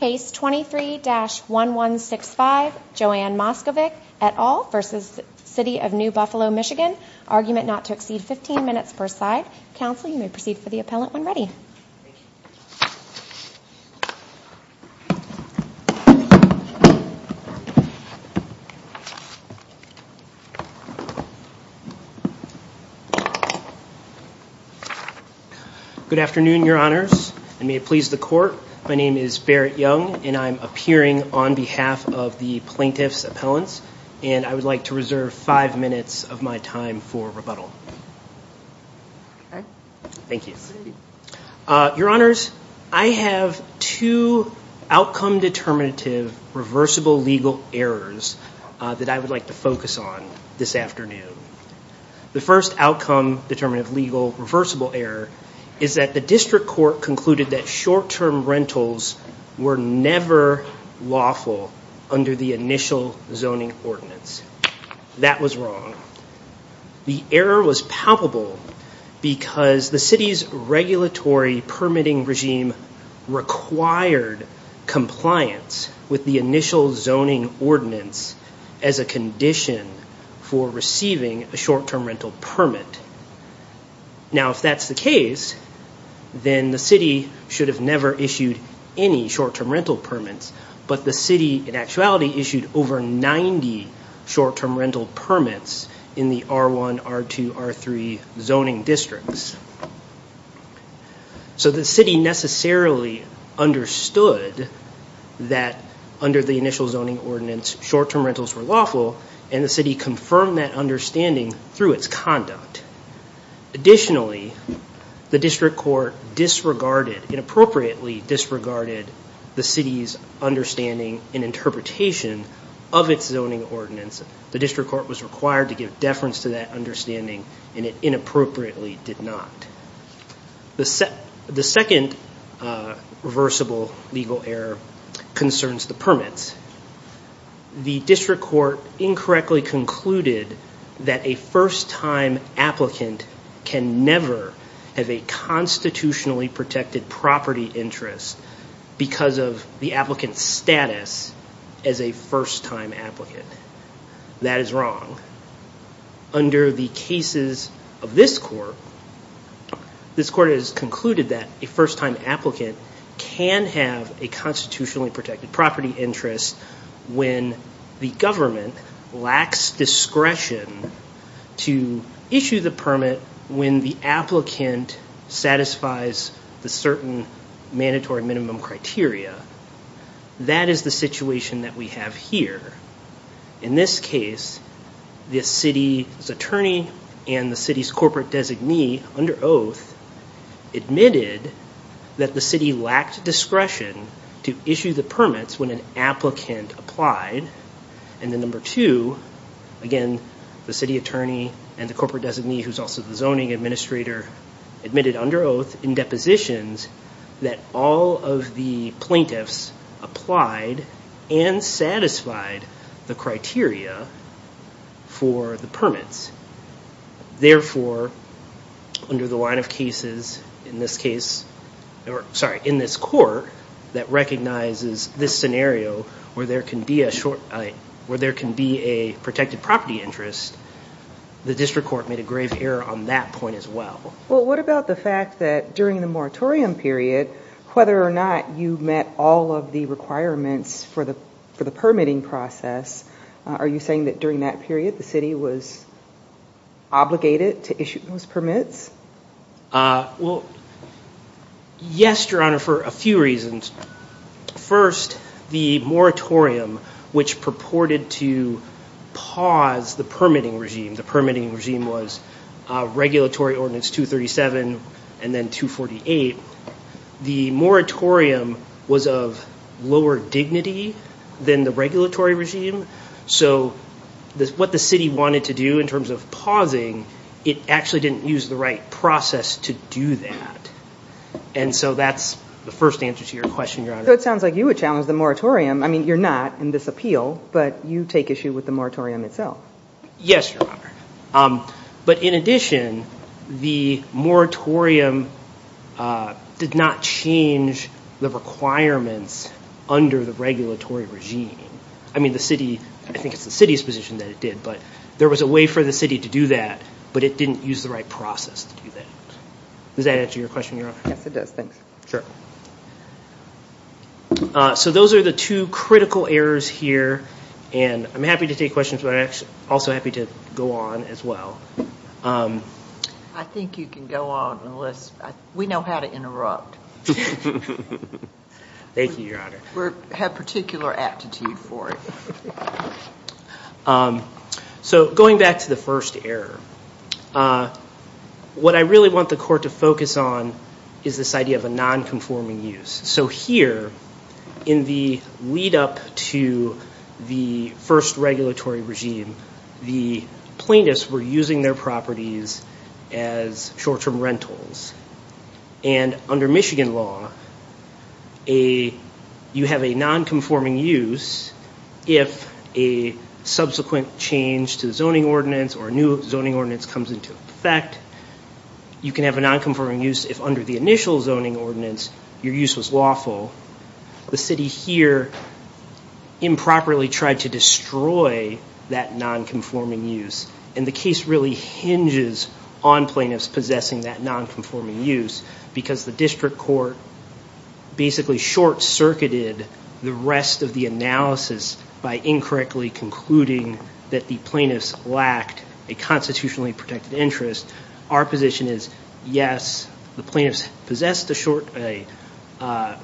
Case 23-1165, Joanne Moskovic et al. v. City of New Buffalo, Michigan. Argument not to exceed 15 minutes per side. Counsel, you may proceed for the appellant when ready. Good afternoon, your honors, and may it please the court. My name is Barrett Young and I'm appearing on behalf of the plaintiff's appellants and I would like to reserve five minutes of my time for rebuttal. Thank you. Your honors, I have two outcome determinative reversible legal errors that I would like to focus on this afternoon. The first outcome determinative legal reversible error is that the district court concluded that short-term rentals were never lawful under the initial zoning ordinance. That was wrong. The error was palpable because the city's regulatory permitting regime required compliance with the initial zoning ordinance as a condition for receiving a short-term rental permit. Now if that's the case, then the city should have never issued any short-term rental permits, but the city in actuality issued over 90 short-term rental permits in the R1, R2, R3 zoning districts. So the city necessarily understood that under the initial zoning ordinance short-term rentals were lawful and the city confirmed that understanding through its conduct. Additionally, the district court inappropriately disregarded the city's understanding and interpretation of its zoning ordinance. The district court was required to give deference to that understanding and it inappropriately did not. The second reversible legal error concerns the permits. The district court incorrectly concluded that a first-time applicant can never have a constitutionally protected property interest because of the applicant's status as a first-time applicant. That is wrong. Under the cases of this court, this court has concluded that a first-time applicant can have a constitutionally protected property interest when the government lacks discretion to issue the permit when the applicant satisfies the certain mandatory minimum criteria. That is the situation that we have here. In this case, the city's attorney and the city's corporate designee under oath admitted that the city lacked discretion to issue the permits when an applicant applied. And then number two, again, the city attorney and the corporate designee who's also the zoning administrator admitted under oath in depositions that all of the plaintiffs applied and satisfied the criteria for the permits. Therefore, under the line of cases in this case, sorry, in this court that recognizes this scenario where there can be a short, where there can be a protected property interest, the district court made a grave error on that point as well. Well, what about the fact that during the moratorium period, whether or not you met all of the requirements for the permitting process, are you saying that during that period the city was obligated to issue those permits? Well, yes, Your Honor, for a few reasons. First, the moratorium, which purported to pause the permitting regime, the permitting regime was Regulatory Ordinance 237 and then 248, the moratorium was of lower dignity than the regulatory regime. So what the city wanted to do in terms of pausing, it actually didn't use the right process to do that. And so that's the first answer to your question, Your Honor. So it sounds like you would challenge the moratorium. I mean, you're not in this appeal, but you take issue with the moratorium itself. Yes, Your Honor, but in addition the moratorium did not change the requirements under the regulatory regime. I mean, the city, I think it's the city's position that it did, but there was a way for the city to do that, but it didn't use the right process to do that. Does that answer your question, Your Honor? Yes, it does, thanks. Sure. So those are the two critical errors here, and I'm happy to take questions, but I'm also happy to go on as well. I think you can go on unless, we know how to interrupt. Thank you, Your Honor. We have particular aptitude for it. So going back to the first error, what I really want the court to focus on is this idea of a non-conforming use. So here, in the lead-up to the first regulatory regime, the plaintiffs were using their properties as short-term rentals, and under Michigan law, you have a non-conforming use if a subsequent change to the zoning ordinance or a new zoning ordinance comes into effect. You can have a non-conforming use if under the initial zoning ordinance your use was lawful. The city here improperly tried to destroy that non-conforming use, and the case really hinges on plaintiffs possessing that non-conforming use because the district court basically short-circuited the rest of the analysis by incorrectly concluding that the plaintiffs lacked a constitutionally protected interest. Our position is, yes, the plaintiffs possessed a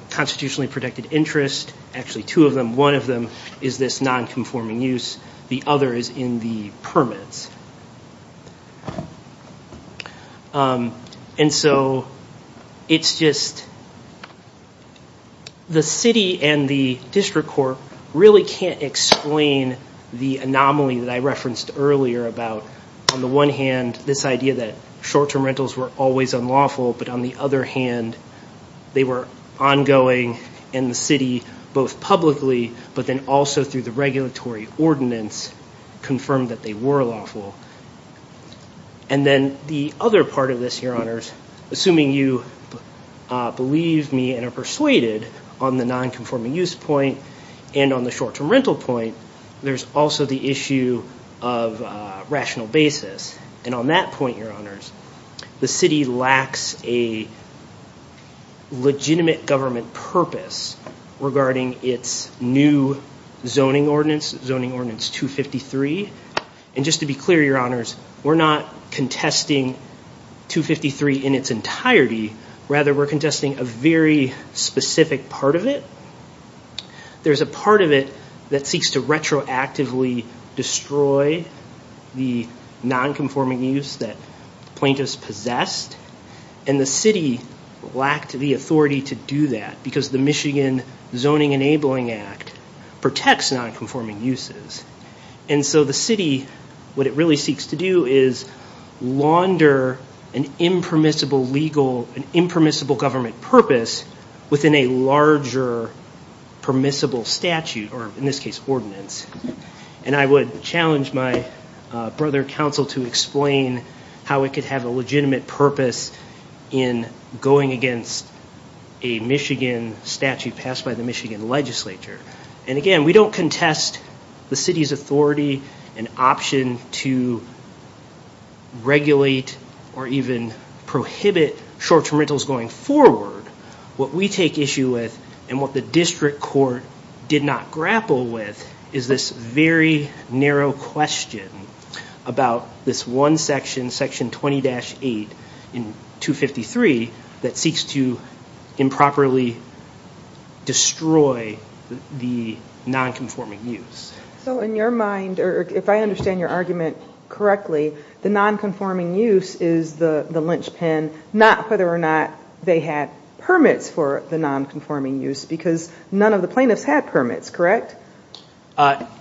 constitutionally protected interest, actually two of them. One of them is this non-conforming use. The other is in the permits. And so it's just, the city and the district court really can't explain the anomaly that I referenced earlier about, on the one hand, this idea that short-term rentals were always unlawful, but on the other hand, they were ongoing in the city, both publicly, but then also through the regulatory ordinance, confirmed that they were lawful. And then the other part of this, Your Honors, assuming you believe me and are persuaded on the non-conforming use point and on the short-term rental point, there's also the issue of rational basis. And on that point, Your Honors, the city lacks a legitimate government purpose regarding its new zoning ordinance, Zoning Ordinance 253. And just to be clear, Your Honors, we're not contesting 253 in its entirety. Rather, we're contesting a very specific part of it. There's a part of it that seeks to retroactively destroy the non-conforming use that plaintiffs possessed, and the city lacked the authority to do that because the Michigan Zoning Enabling Act protects non-conforming uses. And so the city, what it really seeks to do is launder an impermissible legal, an impermissible government purpose within a larger permissible statute, or in this case, ordinance. And I would challenge my brother council to explain how it could have a legitimate purpose in going against a Michigan statute passed by the Michigan legislature. And again, we don't contest the city's authority and option to regulate or even prohibit short-term rentals going forward. What we take issue with and what the district court did not grapple with is this very narrow question about this one section, Section 20-8 in 253, that seeks to improperly destroy the non-conforming use. So in your mind, or if I understand your argument correctly, the non-conforming use is the linchpin, not whether or not they had permits for the non-conforming use, because none of the plaintiffs had permits, correct?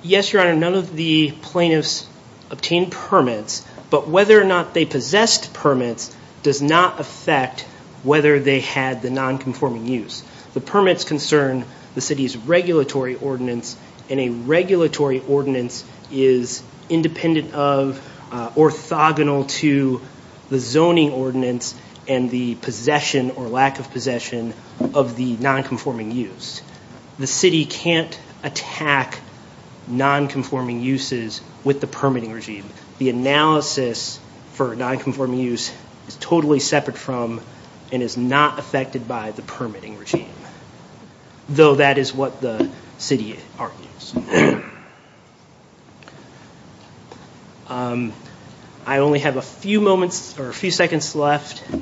Yes, Your Honor. None of the plaintiffs obtained permits, but whether or not they possessed permits does not affect whether they had the non-conforming use. The permits concern the city's regulatory ordinance, and a regulatory ordinance is independent of, orthogonal to the zoning ordinance and the possession or lack of possession of the non-conforming use. The city can't attack non-conforming uses with the permitting regime. The analysis for non-conforming use is totally separate from and is not affected by the permitting regime, though that is what the city argues. I only have a few moments or a few seconds left. If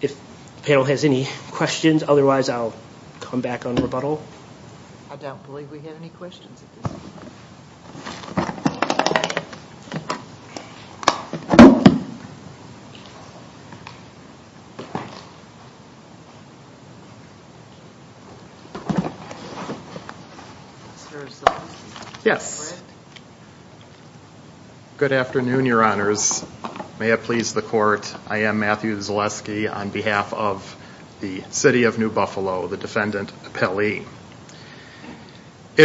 the panel has any questions, otherwise I'll come back on rebuttal. I don't believe we have any questions at this point. Mr. Zaleski? Yes. Good afternoon, Your Honors. May it please the court, I am Matthew Zaleski on behalf of the city of New It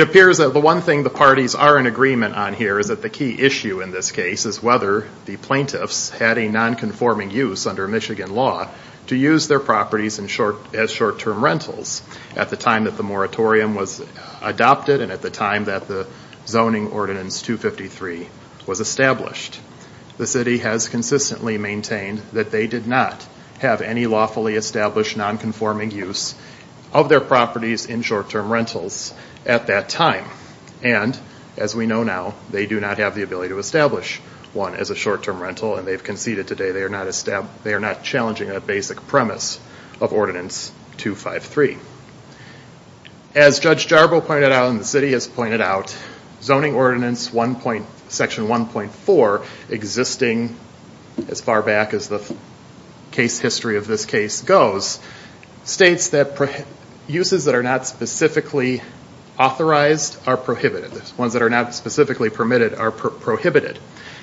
appears that the one thing the parties are in agreement on here is that the key issue in this case is whether the plaintiffs had a non-conforming use under Michigan law to use their properties as short-term rentals at the time that the moratorium was adopted and at the time that the zoning ordinance 253 was established. The city has consistently maintained that they did not have any lawfully established non-conforming use of their properties in short-term rentals at that time. And as we know now, they do not have the ability to establish one as a short-term rental and they've conceded today they are not challenging a basic premise of ordinance 253. As Judge Jarbo pointed out and the city has pointed out, zoning ordinance section 1.4, existing as far back as the case history of this case goes, states that uses that are not specifically authorized are prohibited. Ones that are not specifically permitted are prohibited.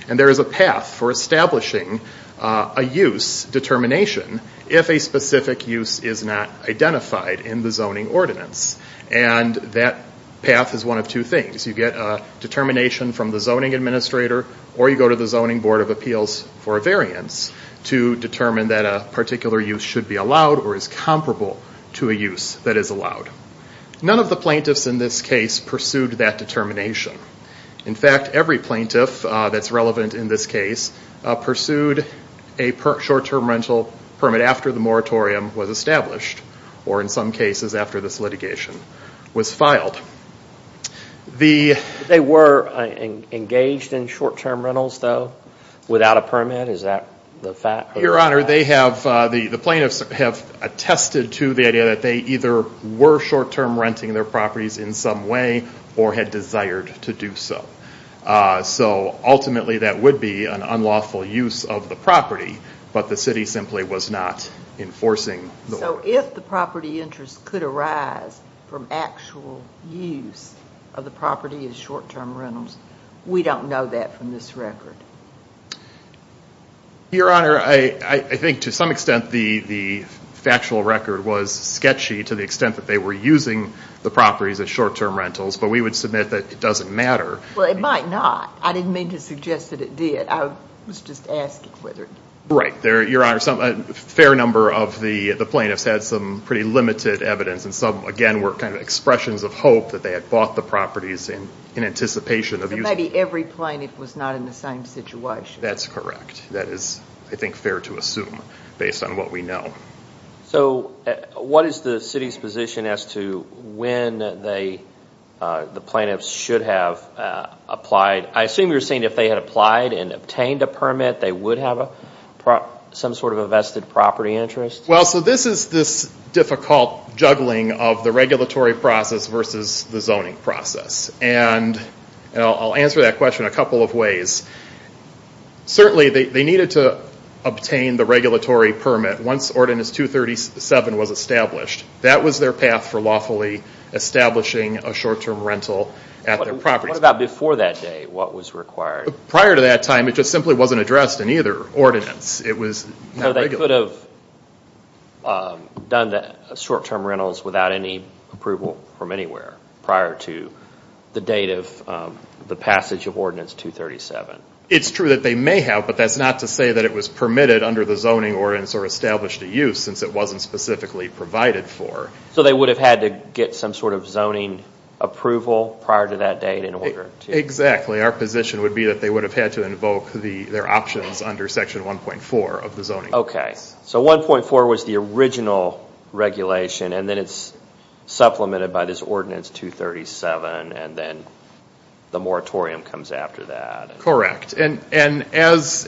And there is a path for establishing a use determination if a specific use is not identified in the zoning ordinance. And that path is one of two things. You get a determination from the zoning administrator or you go to the zoning board of appeals for a variance to determine that a particular use should be allowed or is comparable to a use that is allowed. None of the plaintiffs in this case pursued that determination. In fact, every plaintiff that's relevant in this case pursued a short-term rental permit after the moratorium was established or in some cases after this litigation was filed. They were engaged in short-term rentals though, without a permit, is that the fact? Your Honor, the plaintiffs have attested to the idea that they either were short-term renting their properties in some way or had desired to do so. So ultimately that would be an unlawful use of the property, but the city simply was not enforcing the ordinance. So if the property interest could arise from actual use of the property as short-term rentals, we don't know that from this record? Your Honor, I think to some extent the factual record was sketchy to the extent that they were using the properties as short-term rentals, but we would submit that it doesn't matter. Well, it might not. I didn't mean to suggest that it did. I was just asking whether... Right. Your Honor, a fair number of the plaintiffs had some pretty limited evidence and some again were kind of expressions of hope that they had bought the properties in anticipation of using them. So maybe every plaintiff was not in the same situation. That's correct. That is, I think, fair to assume based on what we know. So what is the city's position as to when the plaintiffs should have applied? I assume you're saying if they had applied and obtained a permit, they would have some sort of a vested property interest? Well, so this is this difficult juggling of the regulatory process versus the zoning process. And I'll answer that question a couple of ways. Certainly, they needed to obtain the regulatory permit once Ordinance 237 was established. That was their path for lawfully establishing a short-term rental at their property. What about before that date? What was required? Prior to that time, it just simply wasn't addressed in either ordinance. It was not regulated. So they could have done the short-term rentals without any approval from anywhere prior to the date of the passage of Ordinance 237? It's true that they may have, but that's not to say that it was permitted under the zoning ordinance or established to use since it wasn't specifically provided for. So they would have had to get some sort of zoning approval prior to that date in order to... Exactly. Our position would be that they would have had to invoke their options under Section 1.4 of the zoning ordinance. So 1.4 was the original regulation, and then it's supplemented by this Ordinance 237, and then the moratorium comes after that. Correct. And as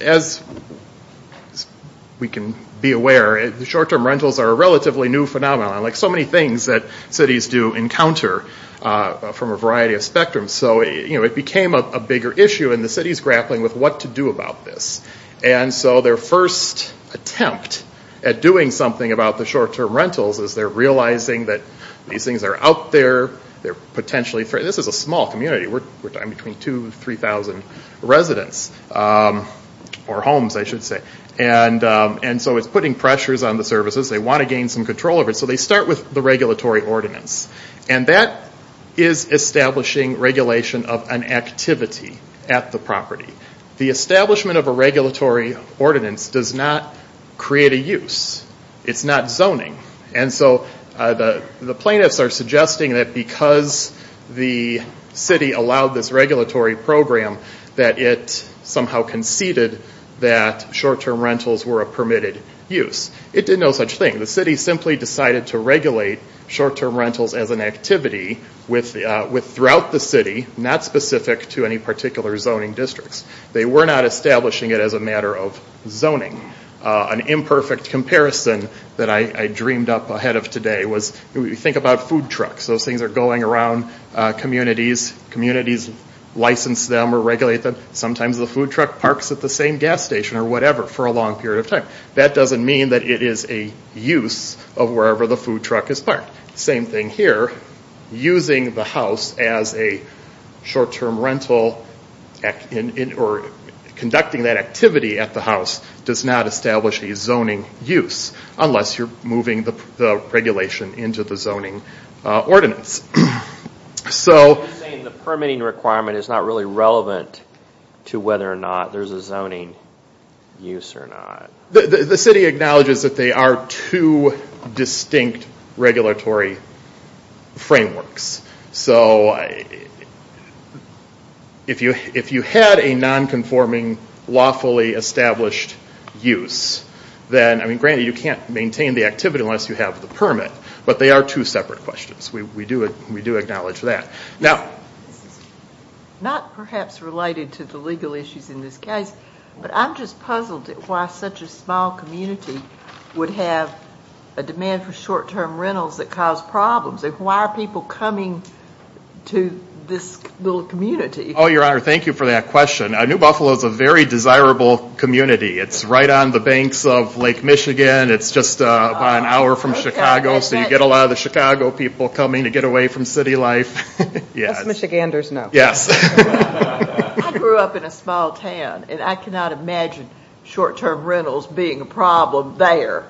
we can be aware, short-term rentals are a relatively new phenomenon. So many things that cities do encounter from a variety of spectrums. So it became a bigger issue, and the city's grappling with what to do about this. And so their first attempt at doing something about the short-term rentals is they're realizing that these things are out there, they're potentially... This is a small community. We're talking between 2,000 and 3,000 residents, or homes, I should say. And so it's putting pressures on the services. They want to gain some control over it. So they start with the regulatory ordinance, and that is establishing regulation of an activity at the property. The establishment of a regulatory ordinance does not create a use. It's not zoning. And so the plaintiffs are suggesting that because the city allowed this regulatory program that it somehow conceded that short-term rentals were a permitted use. It did no such thing. The city simply decided to regulate short-term rentals as an activity throughout the city, not specific to any particular zoning districts. They were not establishing it as a matter of zoning. An imperfect comparison that I dreamed up ahead of today was, you think about food trucks. Those things are going around communities. Communities license them or regulate them. Sometimes the food truck parks at the same gas station or whatever for a long period of time. That doesn't mean that it is a use of wherever the food truck is parked. Same thing here. Using the house as a short-term rental or conducting that activity at the house does not establish a zoning use, unless you're moving the regulation into the zoning ordinance. So I'm just saying the permitting requirement is not really relevant to whether or not there's a zoning use or not. The city acknowledges that they are two distinct regulatory frameworks. So if you had a non-conforming lawfully established use, then granted you can't maintain the activity unless you have the permit, but they are two separate questions. We do acknowledge that. This is not perhaps related to the legal issues in this case, but I'm just puzzled why such a small community would have a demand for short-term rentals that cause problems. Why are people coming to this little community? Oh, Your Honor, thank you for that question. New Buffalo is a very desirable community. It's right on the banks of Lake Michigan. It's just about an hour from Chicago, so you get a lot of the Chicago people coming to get away from city life. That's Michiganders now. I grew up in a small town, and I cannot imagine short-term rentals being a problem there.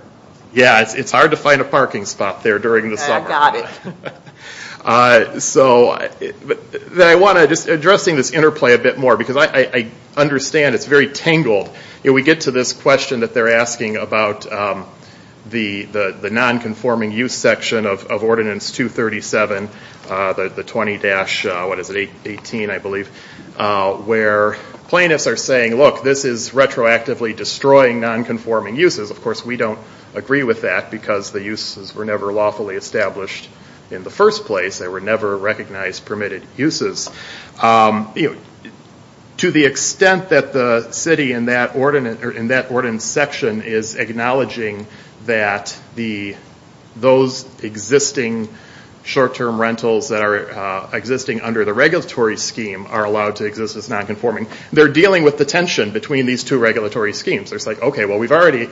It's hard to find a parking spot there during the summer. So addressing this interplay a bit more, because I understand it's very tangled. We get to this question that they're asking about the non-conforming use section of Ordinance 237, the 20-18, I believe, where plaintiffs are saying, look, this is retroactively destroying non-conforming uses. Of course, we don't agree with that because the uses were never lawfully established in the first place. They were never recognized permitted uses. To the extent that the city in that ordinance section is acknowledging that those existing short-term rentals that are existing under the regulatory scheme are allowed to exist as non-conforming, they're dealing with the tension between these two regulatory schemes. They're saying, okay, we've already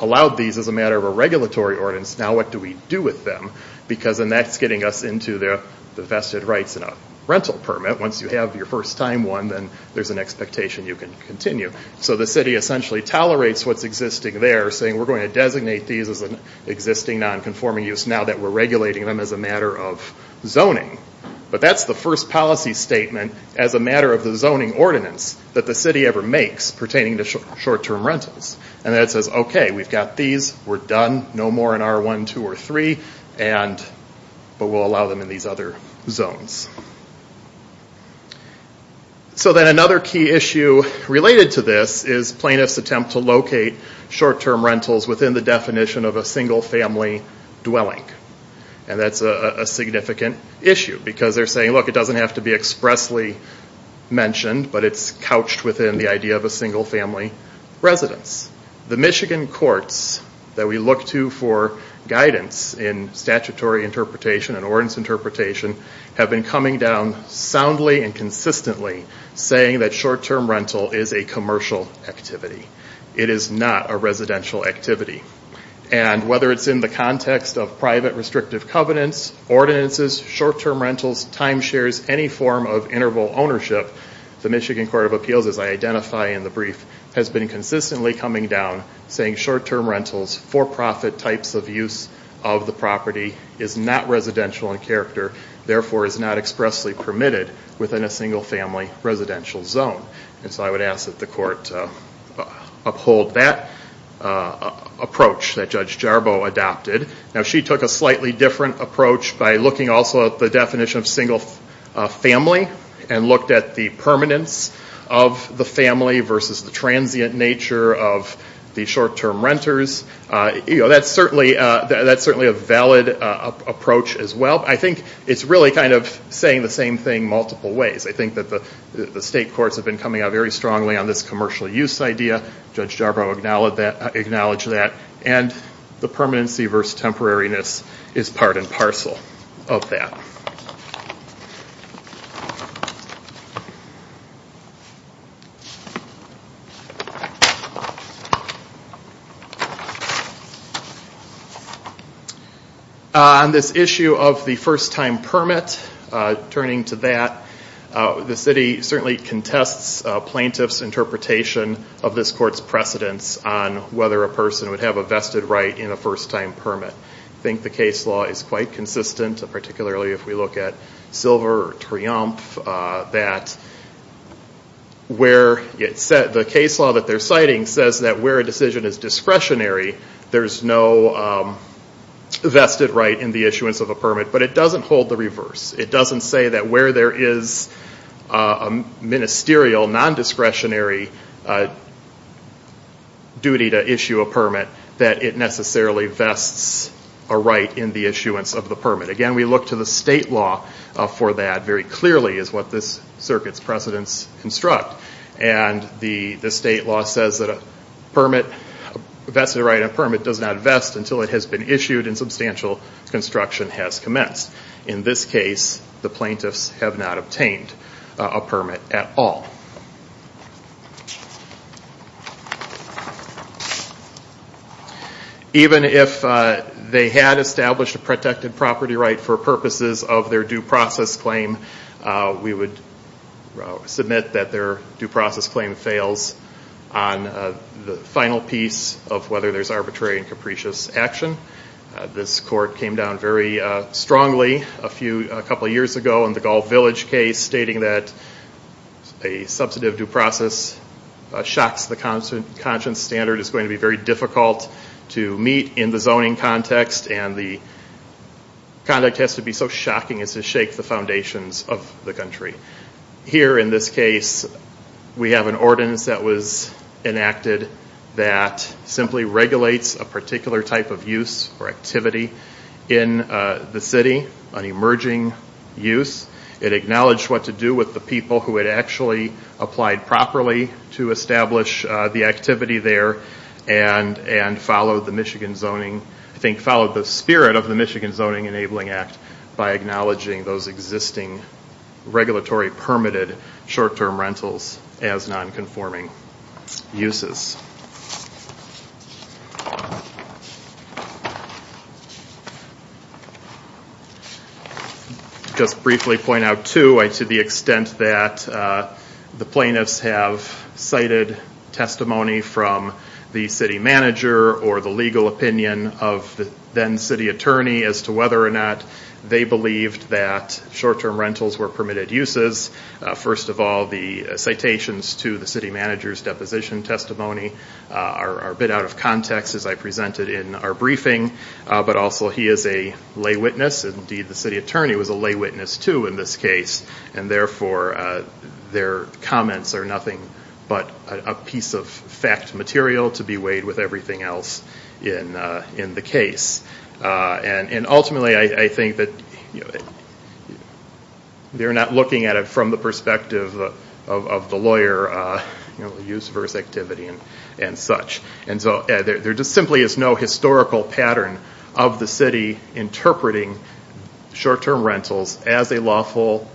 allowed these as a matter of a regulatory ordinance. Now what do we do with them? That's getting us into the vested rights in a rental permit. Once you have your first-time one, then there's an expectation you can continue. So the city essentially tolerates what's existing there, saying we're going to designate these as an existing non-conforming use now that we're regulating them as a matter of zoning. But that's the first policy statement as a matter of the zoning ordinance that the city ever makes pertaining to short-term rentals. And then it says, okay, we've got these. We're done. No more in R1, R2, or R3, but we'll allow them in these other zones. So then another key issue related to this is plaintiffs' attempt to locate short-term rentals within the definition of a single-family dwelling. And that's a significant issue because they're saying, look, it doesn't have to be expressly mentioned, but it's couched within the idea of a single-family residence. The Michigan courts that we look to for guidance in statutory interpretation and ordinance interpretation have been coming down soundly and consistently saying that short-term rental is a commercial activity. It is not a residential activity. And whether it's in the context of private restrictive covenants, ordinances, short-term rentals, timeshares, any form of interval ownership, the Michigan Court of Appeals, as I identify in the brief, has been consistently coming down saying short-term rentals, for-profit types of use of the property, is not residential in character, therefore is not expressly permitted within a single-family residential zone. And so I would ask that the court uphold that approach that Judge Jarboe adopted. Now she took a slightly different approach by looking also at the definition of single-family and looked at the permanence of the family versus the transient nature of the short-term renters. That's certainly a valid approach as well. I think it's really kind of saying the same thing multiple ways. I think that the state courts have been coming out very strongly on this commercial use idea. Judge Jarboe acknowledged that. And the permanency versus temporariness is part and parcel of that. On this issue of the first-time permit, turning to that, the city certainly contests plaintiffs' interpretation of this court's precedence on whether a person would have a vested right in a first-time permit. I think the case law is quite consistent, particularly if we look at Silver or Triumph, that the case law that they're citing says that where a decision is discretionary, there's no vested right in the issuance of a permit. But it doesn't hold the reverse. It doesn't say that where there is a ministerial non-discretionary duty to issue a permit, that it necessarily vests a right in the issuance of the permit. Again, we look to the state law for that very clearly, is what this circuit's precedence constructs. And the state law says that a vested right in a permit does not vest until it has been issued and substantial construction has commenced. In this case, the plaintiffs have not obtained a permit at all. Even if they had established a protected property right for purposes of their due process claim, we would submit that their due process claim fails on the final piece of whether there's arbitrary and capricious action. This court came down very strongly a couple years ago in the Gulf Village case, stating that a substantive due process shocks the conscience standard. It's going to be very difficult to meet in the zoning context and the conduct has to be so shocking as to shake the foundations of the country. Here in this case, we have an ordinance that was enacted that simply regulates a particular type of use or activity in the city, an emerging use. It acknowledged what to do with the people who had actually applied properly to establish the activity there and followed the spirit of the Michigan Zoning Enabling Act by acknowledging those existing regulatory permitted short-term rentals as non-conforming uses. I'll just briefly point out, too, to the extent that the plaintiffs have cited testimony from the city manager or the legal opinion of the then city attorney as to whether or not they believed that short-term rentals were permitted uses. First of all, the citations to the city manager's deposition testimony are a bit out of context, as I presented in our briefing, but also he is a lay witness. Indeed, the city attorney was a lay witness, too, in this case. Therefore, their comments are nothing but a piece of fact material to be weighed with everything else in the case. Ultimately, I think that they're not looking at it from the perspective of the lawyer, use versus activity and such. There just simply is no historical pattern of the city interpreting short-term rentals as a lawful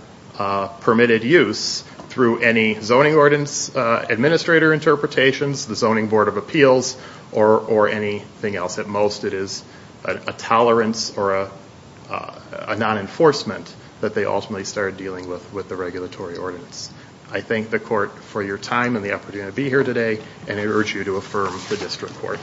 permitted use through any zoning ordinance administrator interpretations, the Zoning Board of Appeals, or anything else. At most, it is a tolerance or a non-enforcement that they ultimately started dealing with with the regulatory ordinance. I thank the court for your time and the opportunity to be here today, and I urge you to affirm the district court.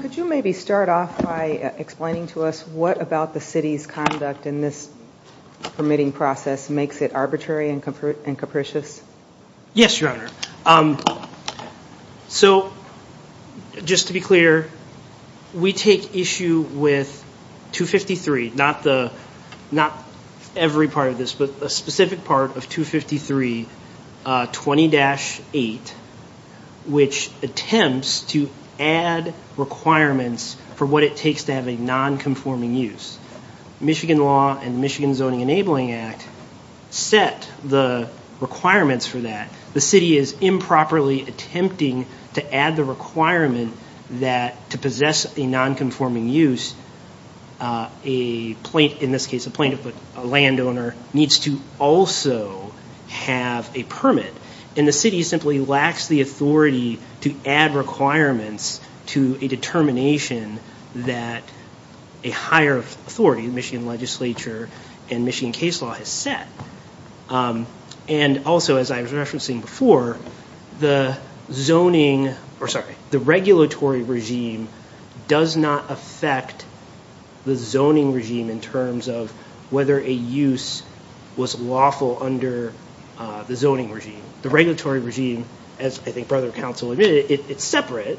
Could you maybe start off by explaining to us what about the city's conduct in this permitting process makes it arbitrary and capricious? Yes, Your Honor. Just to be clear, we take issue with 253, not every part of this, but a specific part of 253, 20-8, which attempts to add requirements for what it takes to have a non-conforming use. Michigan law and Michigan Zoning Enabling Act set the requirements for that. The city is improperly attempting to add the requirement that to possess a non-conforming use, in this case, a plaintiff or a landowner needs to also have a permit. The city simply lacks the authority to add requirements to a determination that a higher authority, the Michigan legislature and Michigan case law has set. Also, as I was referencing before, the regulatory regime does not affect the zoning regime in terms of whether a use was lawful under the zoning regime. The regulatory regime, as I think Brother Counsel admitted, it's separate,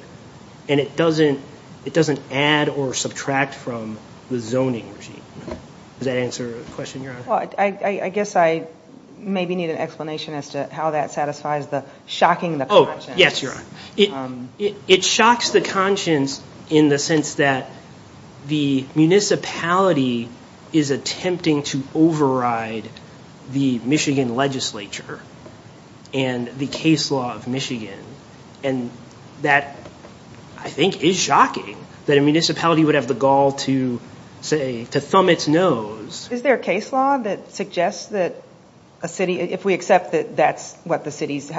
and it doesn't add or subtract from the zoning regime. Does that answer the question, Your Honor? I guess I maybe need an explanation as to how that satisfies the shocking the conscience. It shocks the conscience in the sense that the municipality is attempting to override the Michigan legislature and the case law of Michigan. That, I think, is shocking that a municipality would have the gall to say, to thumb its nose. Is there a case law that suggests that a city, if we accept that that's what the city's,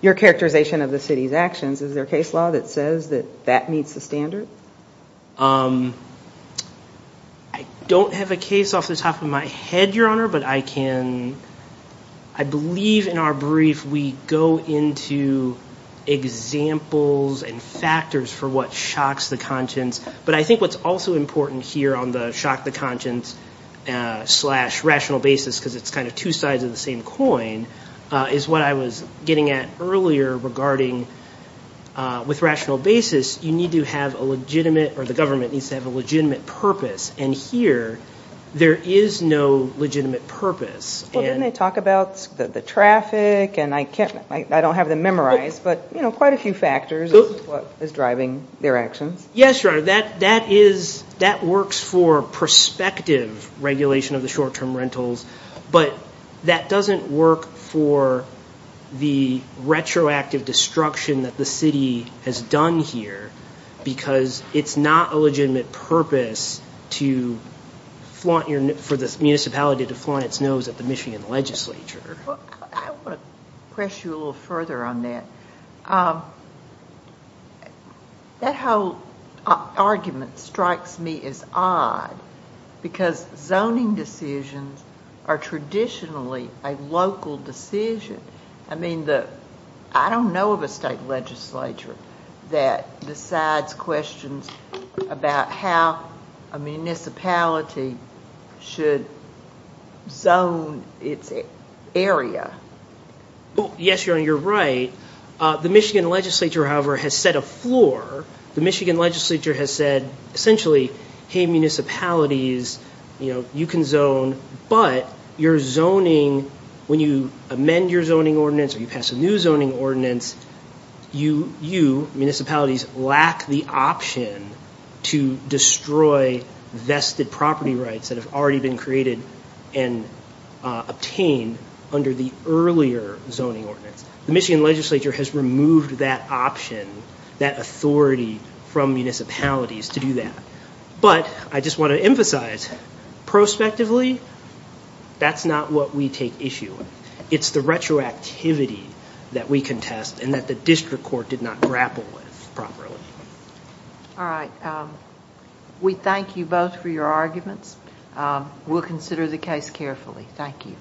your characterization of the city's actions, is there a case law that says that that meets the standard? I don't have a case off the top of my head, Your Honor, but I believe in our brief we go into examples and factors for what shocks the conscience. I think what's also important here on the shock the conscience slash rational basis, because it's two sides of the same coin, is what I was getting at earlier regarding with rational basis, you need to have a legitimate or the government needs to have a legitimate purpose. Here, there is no legitimate purpose. Didn't they talk about the traffic? I don't have them memorized, but quite a few factors is what is driving their actions. Yes, Your Honor. That works for prospective regulation of the short-term rentals, but that doesn't work for the retroactive destruction that the city has done here, because it's not a legitimate purpose for the municipality to flaunt its nose at the Michigan Legislature. I want to press you a little further on that. That whole argument strikes me as odd, because zoning decisions are traditionally a local decision. I don't know of a state legislature that decides questions about how a municipality should zone its area. Yes, Your Honor, you're right. The Michigan Legislature, however, has set a floor. The Michigan Legislature has said, essentially, hey, municipalities, you can zone, but when you amend your zoning ordinance or you pass a new zoning ordinance, you, municipalities, lack the option to destroy vested property rights that have already been created and obtained under the earlier zoning ordinance. The Michigan Legislature has removed that option, that authority from municipalities to do that. But I just want to emphasize, prospectively, that's not what we take issue with. It's the retroactivity that we contest and that the district court did not grapple with properly. We thank you both for your arguments. We'll consider the case carefully. Thank you.